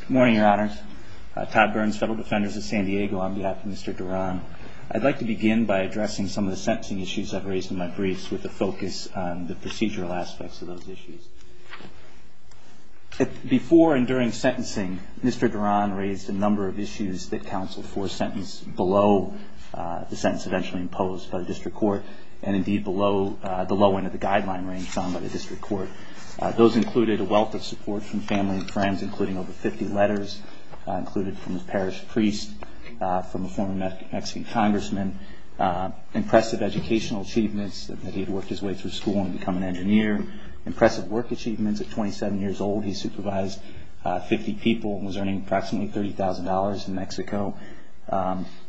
Good morning, your honors. Todd Burns, Federal Defenders of San Diego on behalf of Mr. Duran. I'd like to begin by addressing some of the sentencing issues I've raised in my briefs with a focus on the procedural aspects of those issues. Before and during sentencing, Mr. Duran raised a number of issues that counseled for a sentence below the sentence eventually imposed by the district court and indeed below the low end of the guideline range found by the district court. Those included a wealth of support from family and friends including over 50 letters included from the parish priest, from a former Mexican congressman, impressive educational achievements that he had worked his way through school and become an engineer, impressive work achievements at 27 years old, he supervised 50 people and was earning approximately $30,000 in Mexico,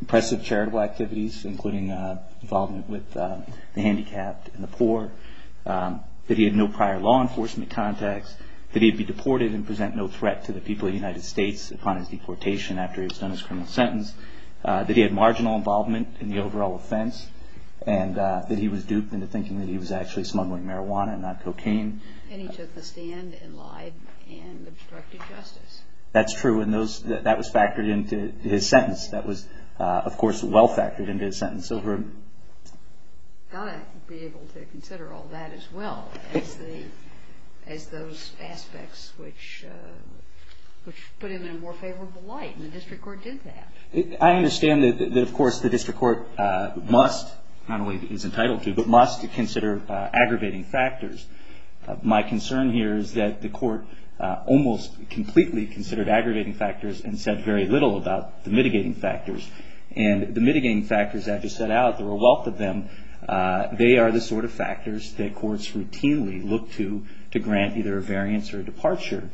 impressive charitable activities including involvement with the handicapped and the poor, that he had no prior law enforcement contacts, that he'd be deported and present no threat to the people of the United States upon his deportation after he was done his criminal sentence, that he had marginal involvement in the overall offense, and that he was duped into thinking that he was actually smuggling marijuana and not cocaine. And he took the stand and lied and obstructed justice. That's true and that was factored into his sentence. That was, of course, well factored into his sentence. You've got to be able to consider all that as well as those aspects which put him in a more favorable light and the district court did that. I understand that, of course, the district court must, not only is entitled to, but must consider aggravating factors. My concern here is that the court almost completely considered aggravating factors and said very little about the mitigating factors. And the mitigating factors I just set out, there were a wealth of them, they are the sort of factors that courts routinely look to to grant either a variance or a departure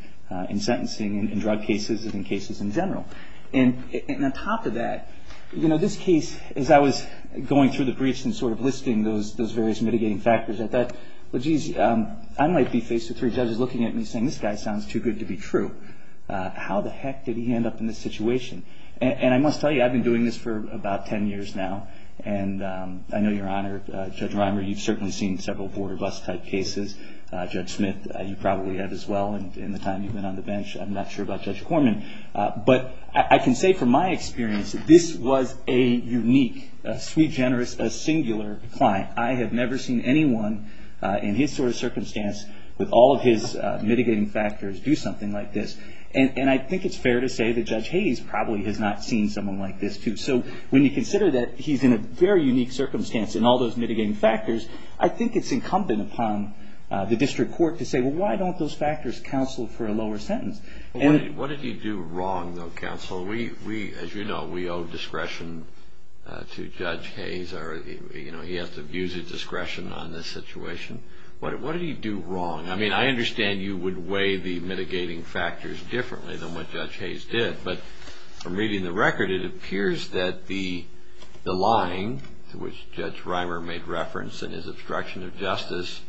in sentencing in drug cases and in cases in general. And on top of that, this case, as I was going through the briefs and sort of listing those various mitigating factors, I thought, well, geez, I might be faced with three judges looking at me saying, this guy sounds too good to be true. How the heck did he end up in this situation? And I must tell you, I've been doing this for about ten years now. And I know, Your Honor, Judge Reimer, you've certainly seen several border bus type cases. Judge Smith, you probably have as well in the time you've been on the bench. I'm not sure about Judge Corman. But I can say from my experience, this was a unique, sweet, generous, singular client. I have never seen anyone in his sort of circumstance with all of his mitigating factors do something like this. And I think it's fair to say that Judge Hayes probably has not seen someone like this, too. So when you consider that he's in a very unique circumstance in all those mitigating factors, I think it's incumbent upon the district court to say, well, why don't those factors counsel for a lower sentence? What did he do wrong, though, counsel? Well, we, as you know, we owe discretion to Judge Hayes. He has to use his discretion on this situation. What did he do wrong? I mean, I understand you would weigh the mitigating factors differently than what Judge Hayes did. But from reading the record, it appears that the lying, which Judge Reimer made reference in his obstruction of justice,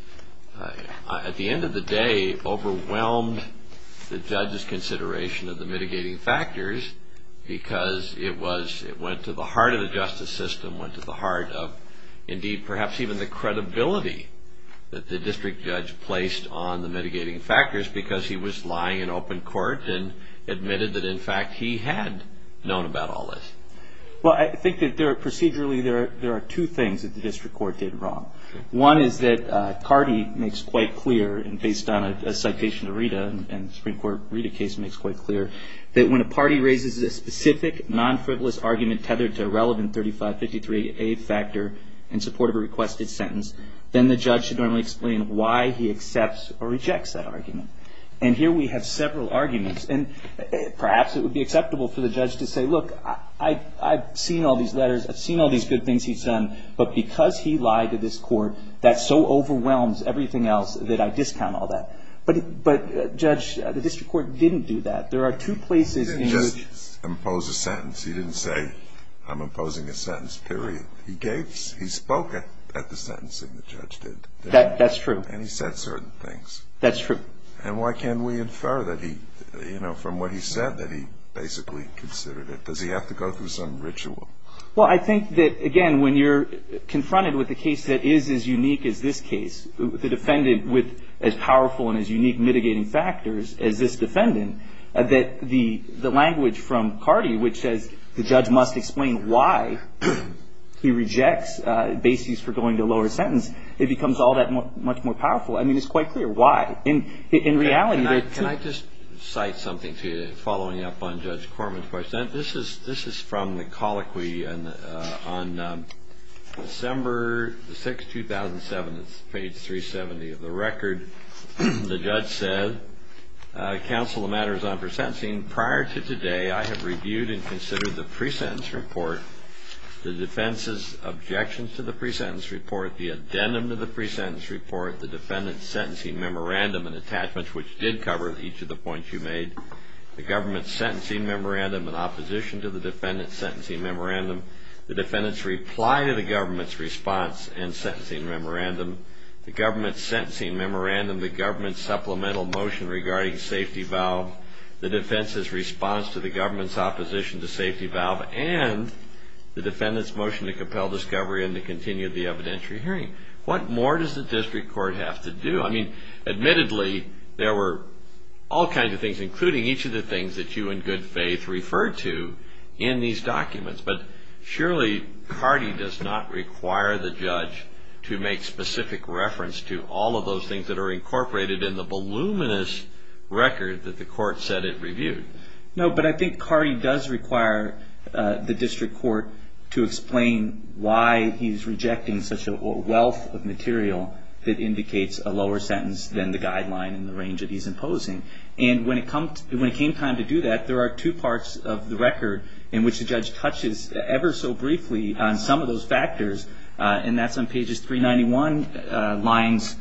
at the end of the day overwhelmed the judge's consideration of the mitigating factors because it was, it went to the heart of the justice system, went to the heart of, indeed, perhaps even the credibility that the district judge placed on the mitigating factors because he was lying in open court and admitted that, in fact, he had known about all this. Well, I think that procedurally there are two things that the district court did wrong. One is that Cardi makes quite clear, and based on a citation to Rita, and the Supreme Court Rita case makes quite clear, that when a party raises a specific non-frivolous argument tethered to a relevant 3553A factor in support of a requested sentence, then the judge should normally explain why he accepts or rejects that argument. And here we have several arguments. And perhaps it would be acceptable for the judge to say, look, I've seen all these letters. I've seen all these good things he's done. But because he lied to this court, that so overwhelms everything else that I discount all that. But, Judge, the district court didn't do that. There are two places. He didn't just impose a sentence. He didn't say, I'm imposing a sentence, period. He gave, he spoke at the sentencing the judge did. That's true. And he said certain things. That's true. And why can't we infer that he, you know, from what he said, that he basically considered it? Does he have to go through some ritual? Well, I think that, again, when you're confronted with a case that is as unique as this case, the defendant with as powerful and as unique mitigating factors as this defendant, that the language from Carty, which says the judge must explain why he rejects bases for going to a lower sentence, it becomes all that much more powerful. I mean, it's quite clear why. In reality, there are two. Can I just cite something to you following up on Judge Corman's question? This is from the colloquy on December 6, 2007. It's page 370 of the record. The judge said, Counsel, the matter is on for sentencing. Prior to today, I have reviewed and considered the pre-sentence report, the defense's objections to the pre-sentence report, the addendum to the pre-sentence report, the defendant's sentencing memorandum and attachments, which did cover each of the points you made, the government's sentencing memorandum in opposition to the defendant's sentencing memorandum, the defendant's reply to the government's response and sentencing memorandum, the government's sentencing memorandum, the government's supplemental motion regarding safety valve, the defense's response to the government's opposition to safety valve, and the defendant's motion to compel discovery and to continue the evidentiary hearing. What more does the district court have to do? I mean, admittedly, there were all kinds of things, including each of the things that you in good faith referred to in these documents, but surely Cardee does not require the judge to make specific reference to all of those things that are incorporated in the voluminous record that the court said it reviewed. No, but I think Cardee does require the district court to explain why he's rejecting such a wealth of material that indicates a lower sentence than the guideline and the range that he's imposing. And when it came time to do that, there are two parts of the record in which the judge touches ever so briefly on some of those factors, and that's on pages 391, lines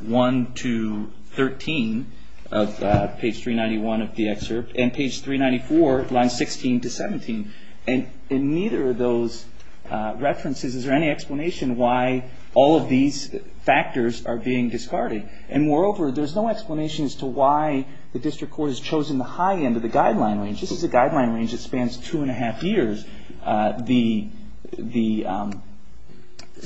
1 to 13 of page 391 of the excerpt, and page 394, lines 16 to 17. And in neither of those references is there any explanation why all of these factors are being discarded. And moreover, there's no explanation as to why the district court has chosen the high end of the guideline range. This is a guideline range that spans two and a half years. The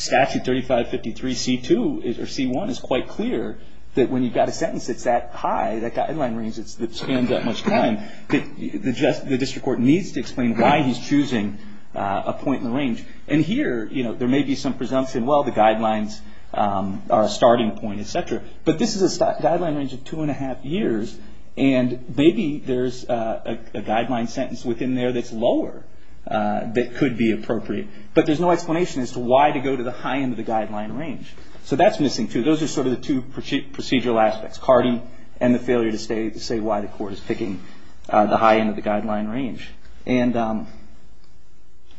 statute 3553C2 or C1 is quite clear that when you've got a sentence that's that high, that guideline range that spans that much time, the district court needs to explain why he's choosing a point in the range. And here, you know, there may be some presumption, well, the guidelines are a starting point, et cetera. But this is a guideline range of two and a half years, and maybe there's a guideline sentence within there that's lower that could be appropriate. But there's no explanation as to why to go to the high end of the guideline range. So that's missing, too. Those are sort of the two procedural aspects, CARDI and the failure to say why the court is picking the high end of the guideline range. And, I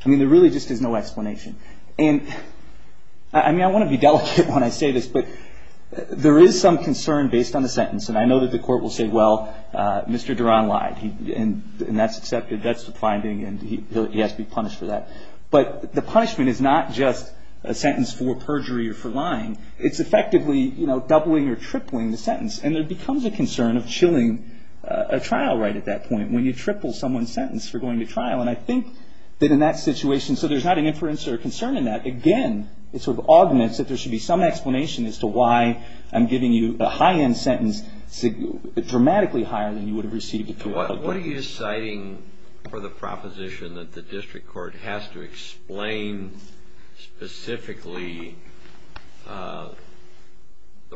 mean, there really just is no explanation. And, I mean, I want to be delicate when I say this, but there is some concern based on the sentence. And I know that the court will say, well, Mr. Duran lied, and that's accepted. That's the finding, and he has to be punished for that. But the punishment is not just a sentence for perjury or for lying. It's effectively, you know, doubling or tripling the sentence. And there becomes a concern of chilling a trial right at that point when you triple someone's sentence for going to trial. And I think that in that situation, so there's not an inference or a concern in that. Again, it sort of augments that there should be some explanation as to why I'm giving you a high end sentence dramatically higher than you would have received it throughout the court. What are you citing for the proposition that the district court has to explain specifically the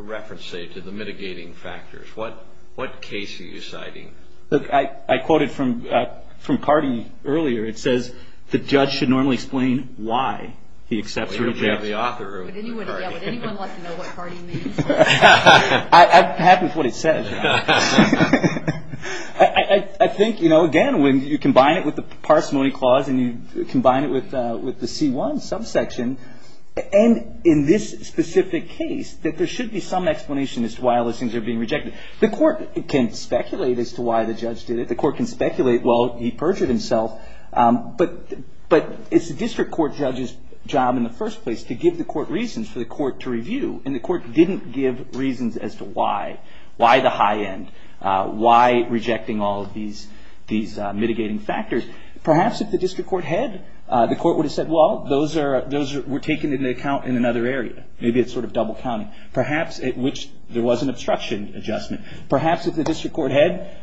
reference, say, to the mitigating factors? What case are you citing? Look, I quoted from Cardi earlier. It says the judge should normally explain why he accepts or rejects. Would anyone like to know what Cardi means? I'm happy with what it says. I think, you know, again, when you combine it with the parsimony clause and you combine it with the C1 subsection, and in this specific case, that there should be some explanation as to why listings are being rejected. The court can speculate as to why the judge did it. The court can speculate, well, he perjured himself. But it's the district court judge's job in the first place to give the court reasons for the court to review. And the court didn't give reasons as to why. Why the high end? Why rejecting all of these mitigating factors? Perhaps if the district court had, the court would have said, well, those were taken into account in another area. Maybe it's sort of double counting. Perhaps at which there was an obstruction adjustment. Perhaps if the district court had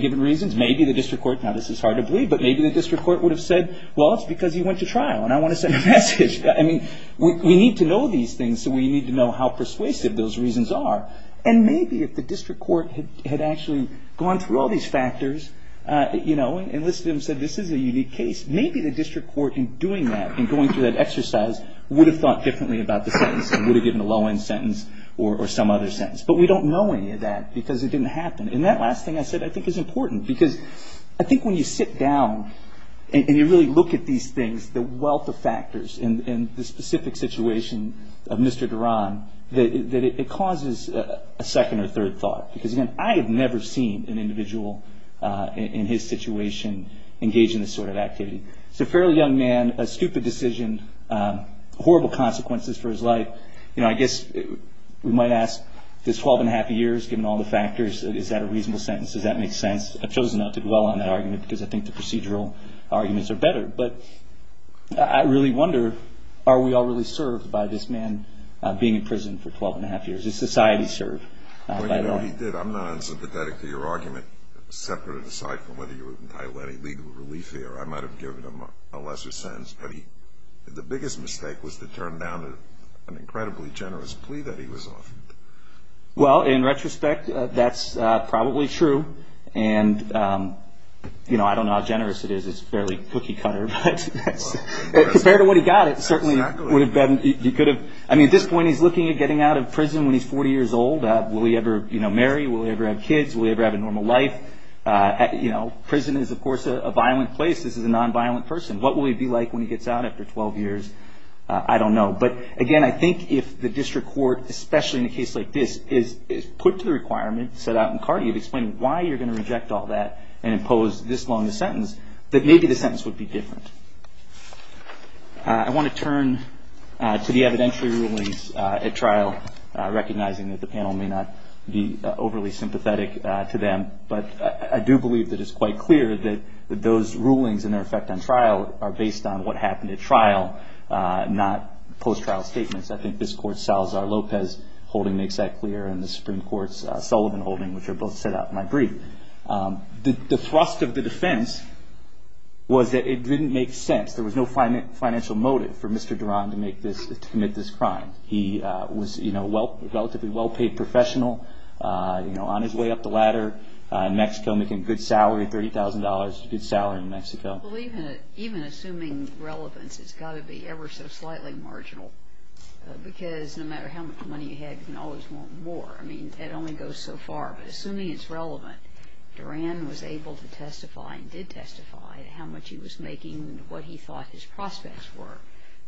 given reasons, maybe the district court, now this is hard to believe, but maybe the district court would have said, well, it's because he went to trial and I want to send a message. I mean, we need to know these things so we need to know how persuasive those reasons are. And maybe if the district court had actually gone through all these factors, you know, enlisted them and said this is a unique case, maybe the district court in doing that and going through that exercise would have thought differently about the sentence and would have given a low end sentence or some other sentence. But we don't know any of that because it didn't happen. And that last thing I said I think is important because I think when you sit down and you really look at these things, the wealth of factors in the specific situation of Mr. Duran, that it causes a second or third thought. Because, again, I have never seen an individual in his situation engage in this sort of activity. He's a fairly young man, a stupid decision, horrible consequences for his life. You know, I guess we might ask this 12 and a half years, given all the factors, is that a reasonable sentence? Does that make sense? I've chosen not to dwell on that argument because I think the procedural arguments are better. But I really wonder, are we all really served by this man being in prison for 12 and a half years? Is society served by that? Well, you know, he did. I'm not unsympathetic to your argument, separate and aside from whether you were entitled to any legal relief here. I might have given him a lesser sentence. But the biggest mistake was to turn down an incredibly generous plea that he was offered. Well, in retrospect, that's probably true. And, you know, I don't know how generous it is. It's a fairly cookie cutter. But compared to what he got, it certainly would have been, he could have, I mean, at this point he's looking at getting out of prison when he's 40 years old. Will he ever, you know, marry? Will he ever have kids? Will he ever have a normal life? You know, prison is, of course, a violent place. This is a nonviolent person. What will he be like when he gets out after 12 years? I don't know. But, again, I think if the district court, especially in a case like this, is put to the requirement, set out in CART, you've explained why you're going to reject all that and impose this long a sentence, that maybe the sentence would be different. I want to turn to the evidentiary rulings at trial, recognizing that the panel may not be overly sympathetic to them. But I do believe that it's quite clear that those rulings and their effect on trial are based on what happened at trial, not post-trial statements. I think this Court's Salazar-Lopez holding makes that clear and the Supreme Court's Sullivan holding, which are both set out in my brief. The thrust of the defense was that it didn't make sense. There was no financial motive for Mr. Duran to make this, to commit this crime. He was, you know, a relatively well-paid professional, you know, on his way up the ladder in Mexico, making a good salary, $30,000, a good salary in Mexico. Well, even assuming relevance, it's got to be ever so slightly marginal, because no matter how much money you had, you can always want more. I mean, it only goes so far. But assuming it's relevant, Duran was able to testify and did testify how much he was making and what he thought his prospects were,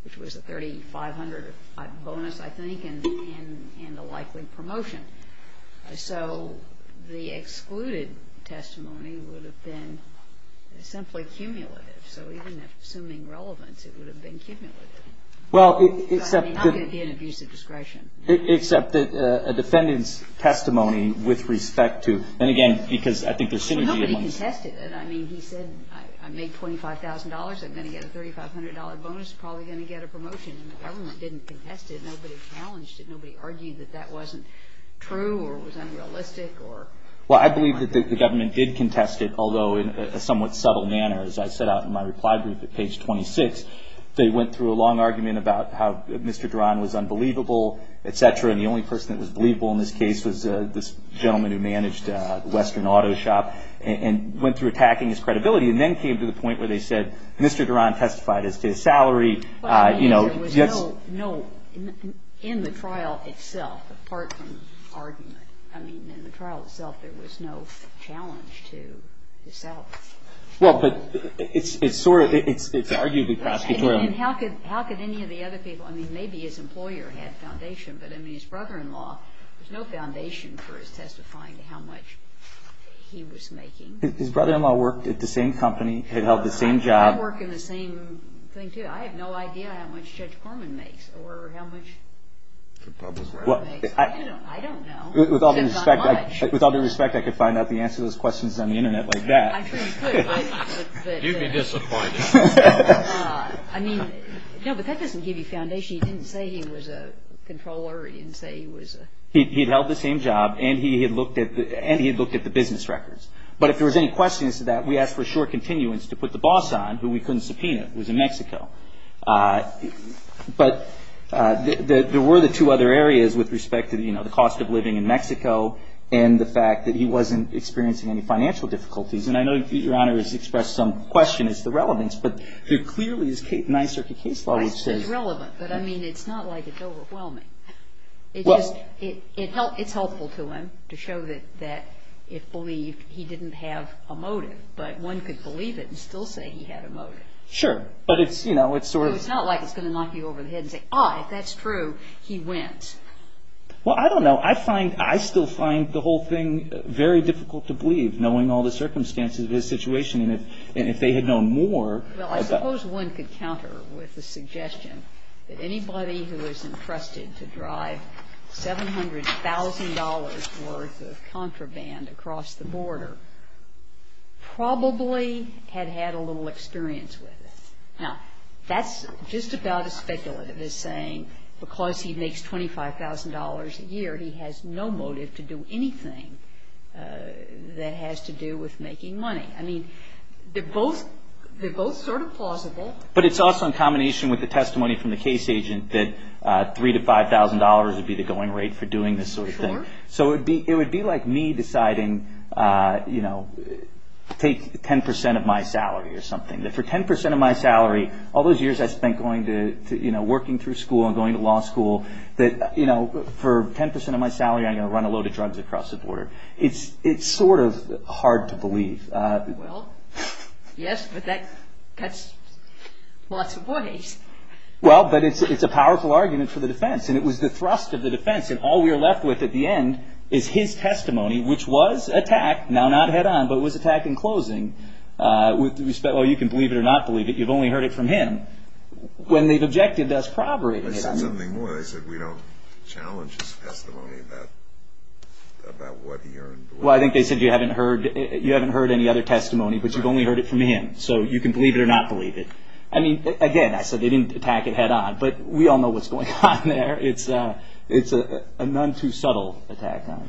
which was a $3,500 bonus, I think, and a likely promotion. So the excluded testimony would have been simply cumulative. So even assuming relevance, it would have been cumulative. I mean, how could it be an abuse of discretion? Except that a defendant's testimony with respect to – and again, because I think there's synergy. Well, nobody contested it. I mean, he said, I made $25,000. I'm going to get a $3,500 bonus. Probably going to get a promotion. And the government didn't contest it. Nobody challenged it. That wasn't true or it was unrealistic. Well, I believe that the government did contest it, although in a somewhat subtle manner. As I set out in my reply group at page 26, they went through a long argument about how Mr. Duran was unbelievable, et cetera, and the only person that was believable in this case was this gentleman who managed Western Auto Shop and went through attacking his credibility and then came to the point where they said, Mr. Duran testified as to his salary. Well, I mean, there was no – in the trial itself, apart from argument, I mean, in the trial itself there was no challenge to his salary. Well, but it's sort of – it's arguably prosecutorial. And how could any of the other people – I mean, maybe his employer had foundation, but I mean, his brother-in-law, there's no foundation for his testifying to how much he was making. His brother-in-law worked at the same company, had held the same job. I work in the same thing, too. I have no idea how much Judge Corman makes or how much – I don't know. With all due respect, I could find out the answer to those questions on the Internet like that. I'm sure you could, but – You'd be disappointed. I mean, no, but that doesn't give you foundation. He didn't say he was a controller. He didn't say he was a – He'd held the same job, and he had looked at the business records. But if there was any questions to that, we asked for a short continuance to put the boss on, who we couldn't subpoena, who was in Mexico. But there were the two other areas with respect to, you know, the cost of living in Mexico and the fact that he wasn't experiencing any financial difficulties. And I know Your Honor has expressed some question as to the relevance, but there clearly is a Ninth Circuit case law which says – It's relevant, but I mean, it's not like it's overwhelming. Well – It's helpful to him to show that it believed he didn't have a motive, but one could believe it and still say he had a motive. Sure, but it's, you know, it's sort of – It's not like it's going to knock you over the head and say, oh, if that's true, he went. Well, I don't know. I find – I still find the whole thing very difficult to believe, knowing all the circumstances of his situation, and if they had known more – Well, I suppose one could counter with the suggestion that anybody who is entrusted to drive $700,000 worth of contraband across the border probably had had a little experience with it. Now, that's just about as speculative as saying because he makes $25,000 a year, he has no motive to do anything that has to do with making money. I mean, they're both sort of plausible. But it's also in combination with the testimony from the case agent that $3,000 to $5,000 would be the going rate for doing this sort of thing. Sure. So it would be like me deciding, you know, take 10% of my salary or something, that for 10% of my salary, all those years I spent going to – you know, working through school and going to law school, that, you know, for 10% of my salary I'm going to run a load of drugs across the border. It's sort of hard to believe. Well, yes, but that cuts lots of ways. Well, but it's a powerful argument for the defense, and it was the thrust of the defense. And all we are left with at the end is his testimony, which was attacked, now not head-on, but was attacked in closing. Well, you can believe it or not believe it. You've only heard it from him. When they've objected, that's probably – They said something more. They said we don't challenge his testimony about what he earned. Well, I think they said you haven't heard any other testimony, but you've only heard it from him, so you can believe it or not believe it. I mean, again, I said they didn't attack it head-on, but we all know what's going on there. It's a none-too-subtle attack on him.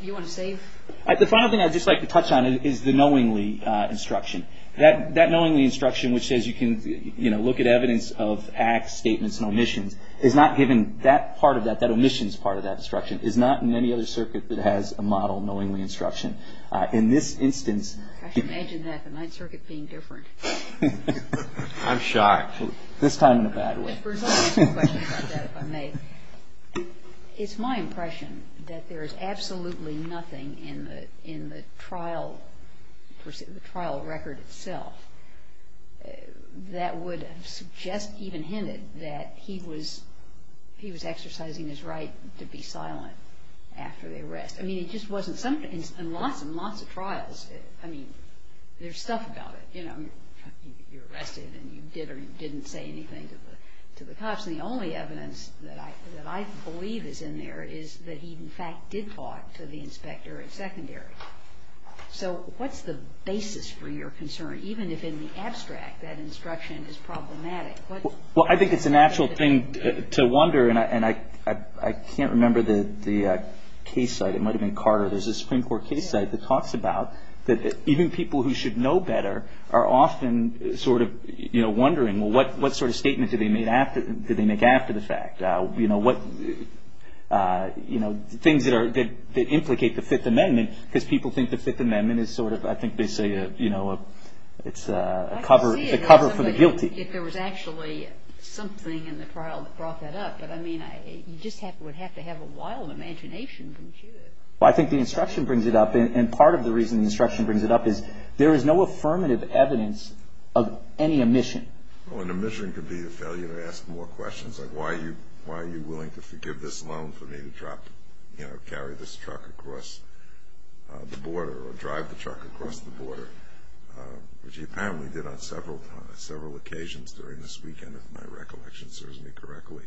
Do you want to save? The final thing I'd just like to touch on is the knowingly instruction. That knowingly instruction, which says you can, you know, look at evidence of acts, statements, and omissions, is not given that part of that, that omissions part of that instruction, is not in any other circuit that has a model knowingly instruction. In this instance – I should imagine that, the Ninth Circuit being different. I'm shocked. This time in a bad way. If I may, it's my impression that there is absolutely nothing in the trial record itself that would suggest, even hinted, that he was exercising his right to be silent after the arrest. I mean, it just wasn't – in lots and lots of trials, I mean, there's stuff about it. You know, you're arrested and you did or didn't say anything to the cops, and the only evidence that I believe is in there is that he in fact did talk to the inspector at secondary. So what's the basis for your concern? Even if in the abstract that instruction is problematic. Well, I think it's a natural thing to wonder, and I can't remember the case site. It might have been Carter. There's a Supreme Court case site that talks about that even people who should know better are often sort of wondering, well, what sort of statement did they make after the fact? You know, things that implicate the Fifth Amendment, because people think the Fifth Amendment is sort of, I think they say it's a cover for the guilty. I can see it, if there was actually something in the trial that brought that up, but, I mean, you just would have to have a wild imagination, wouldn't you? Well, I think the instruction brings it up, and part of the reason the instruction brings it up is there is no affirmative evidence of any omission. Well, an omission could be the failure to ask more questions, like why are you willing to forgive this loan for me to carry this truck across the border or drive the truck across the border, which he apparently did on several occasions during this weekend, if my recollection serves me correctly.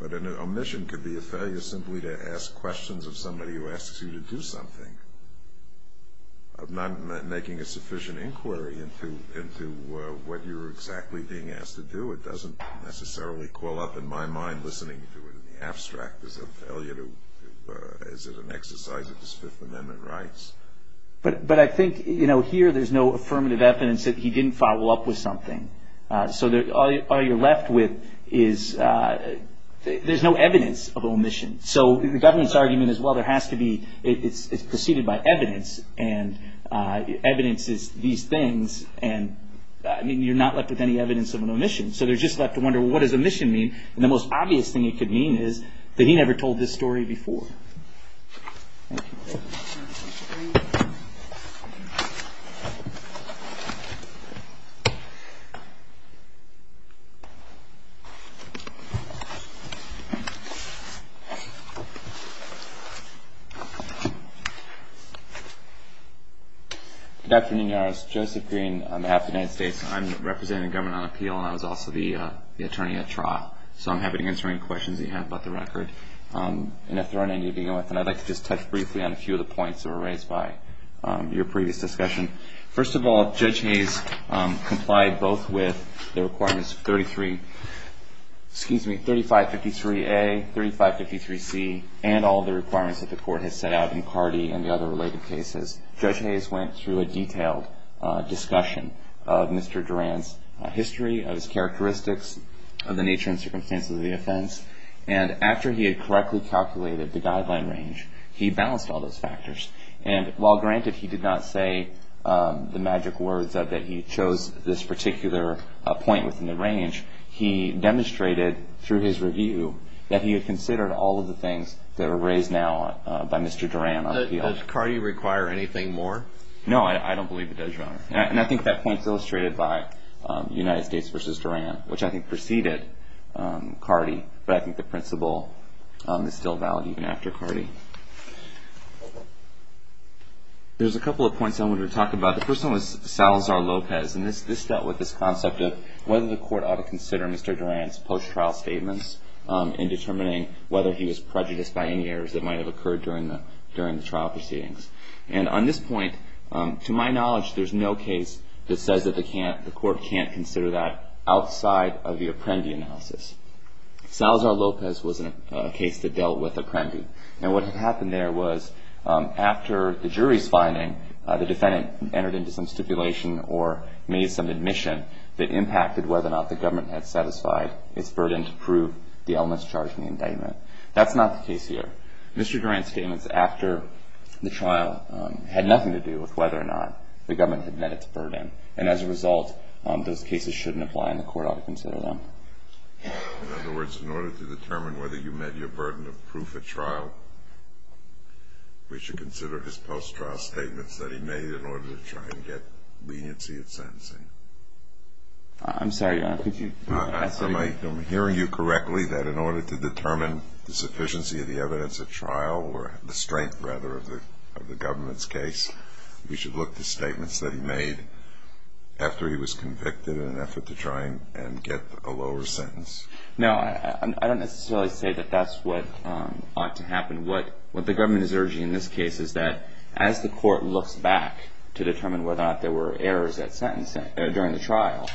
But an omission could be a failure simply to ask questions of somebody who asks you to do something, of not making a sufficient inquiry into what you're exactly being asked to do. It doesn't necessarily call up in my mind listening to it in the abstract. Is it a failure to, is it an exercise of his Fifth Amendment rights? But I think, you know, here there's no affirmative evidence that he didn't follow up with something. So all you're left with is, there's no evidence of omission. So the governance argument is, well, there has to be, it's preceded by evidence, and evidence is these things, and you're not left with any evidence of an omission. So you're just left to wonder, well, what does omission mean? And the most obvious thing it could mean is that he never told this story before. Thank you. Good afternoon, your Honors. Joseph Green on behalf of the United States. I'm representing the government on appeal, and I was also the attorney at Trot. So I'm happy to answer any questions you have about the record. And if there aren't any to begin with, then I'd like to just touch briefly on a few of the points that were raised by your previous discussion. First of all, Judge Hayes complied both with the requirements of 3553A, 3553C, and all the requirements that the Court has set out in Cardi and the other related cases. Judge Hayes went through a detailed discussion of Mr. Duran's history, of his characteristics, of the nature and circumstances of the offense. And after he had correctly calculated the guideline range, he balanced all those factors. And while, granted, he did not say the magic words that he chose this particular point within the range, he demonstrated through his review that he had considered all of the things that are raised now by Mr. Duran on appeal. Does Cardi require anything more? No, I don't believe it does, Your Honor. And I think that point's illustrated by United States v. Duran, which I think preceded Cardi. But I think the principle is still valid even after Cardi. There's a couple of points I wanted to talk about. The first one was Salazar-Lopez. And this dealt with this concept of whether the Court ought to consider Mr. Duran's post-trial statements in determining whether he was prejudiced by any errors that might have occurred during the trial proceedings. And on this point, to my knowledge, there's no case that says that the Court can't consider that outside of the Apprendi analysis. Salazar-Lopez was a case that dealt with Apprendi. And what had happened there was after the jury's finding, the defendant entered into some stipulation or made some admission that impacted whether or not the government had satisfied its burden to prove the illness charged in the indictment. That's not the case here. Mr. Duran's statements after the trial had nothing to do with whether or not the government had met its burden. And as a result, those cases shouldn't apply in the Court ought to consider them. In other words, in order to determine whether you met your burden of proof at trial, we should consider his post-trial statements that he made in order to try and get leniency in sentencing. I'm sorry, Your Honor. I'm hearing you correctly that in order to determine the sufficiency of the evidence at trial, or the strength, rather, of the government's case, we should look to statements that he made after he was convicted in an effort to try and get a lower sentence. No, I don't necessarily say that that's what ought to happen. What the government is urging in this case is that as the Court looks back to determine whether or not there were errors at sentence during the trial,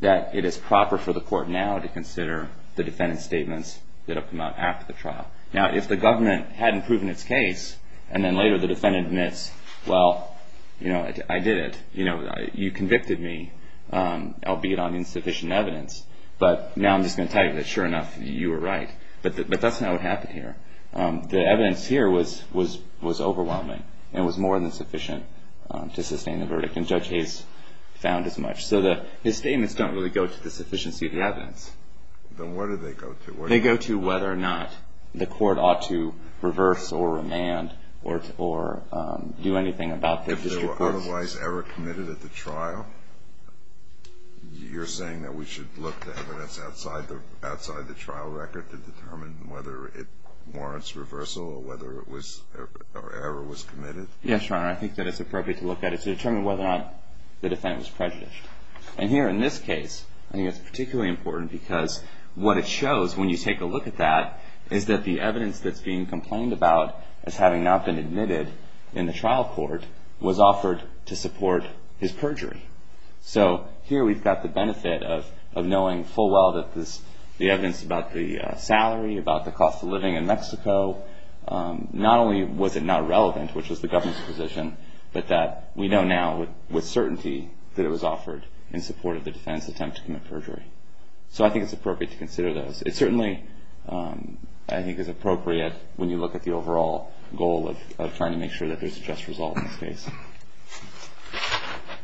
that it is proper for the Court now to consider the defendant's statements that have come out after the trial. Now, if the government hadn't proven its case, and then later the defendant admits, well, you know, I did it. You convicted me, albeit on insufficient evidence. But now I'm just going to tell you that, sure enough, you were right. But that's not what happened here. The evidence here was overwhelming and was more than sufficient to sustain the verdict, and Judge Hayes found as much. So his statements don't really go to the sufficiency of the evidence. Then where do they go to? They go to whether or not the Court ought to reverse or remand or do anything about the district court. If there were otherwise error committed at the trial, you're saying that we should look to evidence outside the trial record to determine whether it warrants reversal or whether error was committed? Yes, Your Honor. I think that it's appropriate to look at it to determine whether or not the defendant was prejudiced. And here in this case, I think it's particularly important because what it shows when you take a look at that is that the evidence that's being complained about as having not been admitted in the trial court was offered to support his perjury. So here we've got the benefit of knowing full well that the evidence about the salary, about the cost of living in Mexico, not only was it not relevant, which was the government's position, but that we know now with certainty that it was offered in support of the defendant's attempt to commit perjury. So I think it's appropriate to consider those. It certainly, I think, is appropriate when you look at the overall goal of trying to make sure that there's a just result in this case.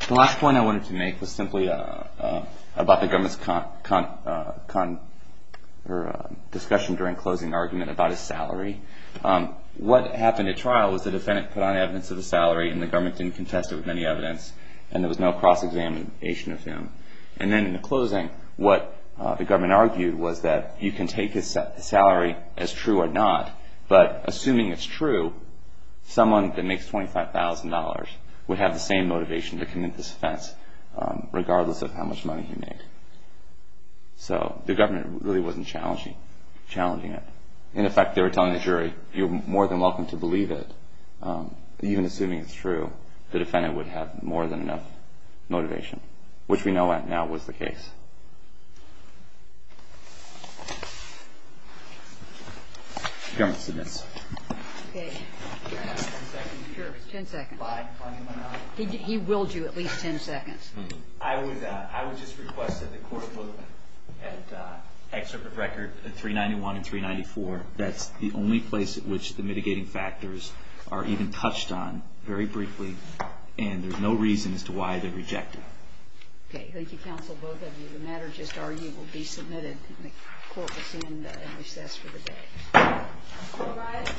The last point I wanted to make was simply about the government's discussion during closing argument about his salary. What happened at trial was the defendant put on evidence of the salary and the government didn't contest it with any evidence, and there was no cross-examination of him. And then in the closing, what the government argued was that you can take his salary as true or not, but assuming it's true, someone that makes $25,000 would have the same motivation to commit this offense, regardless of how much money he made. So the government really wasn't challenging it. In effect, they were telling the jury, you're more than welcome to believe it. Even assuming it's true, the defendant would have more than enough motivation, which we know now was the case. The government submits. Okay. Ten seconds. Ten seconds. He will do at least ten seconds. I would just request that the court look at excerpt of record 391 and 394. That's the only place at which the mitigating factors are even touched on very briefly, and there's no reason as to why they reject it. Okay. Thank you, counsel, both of you. The matter just argued will be submitted, and the court will stand in recess for the day. All rise.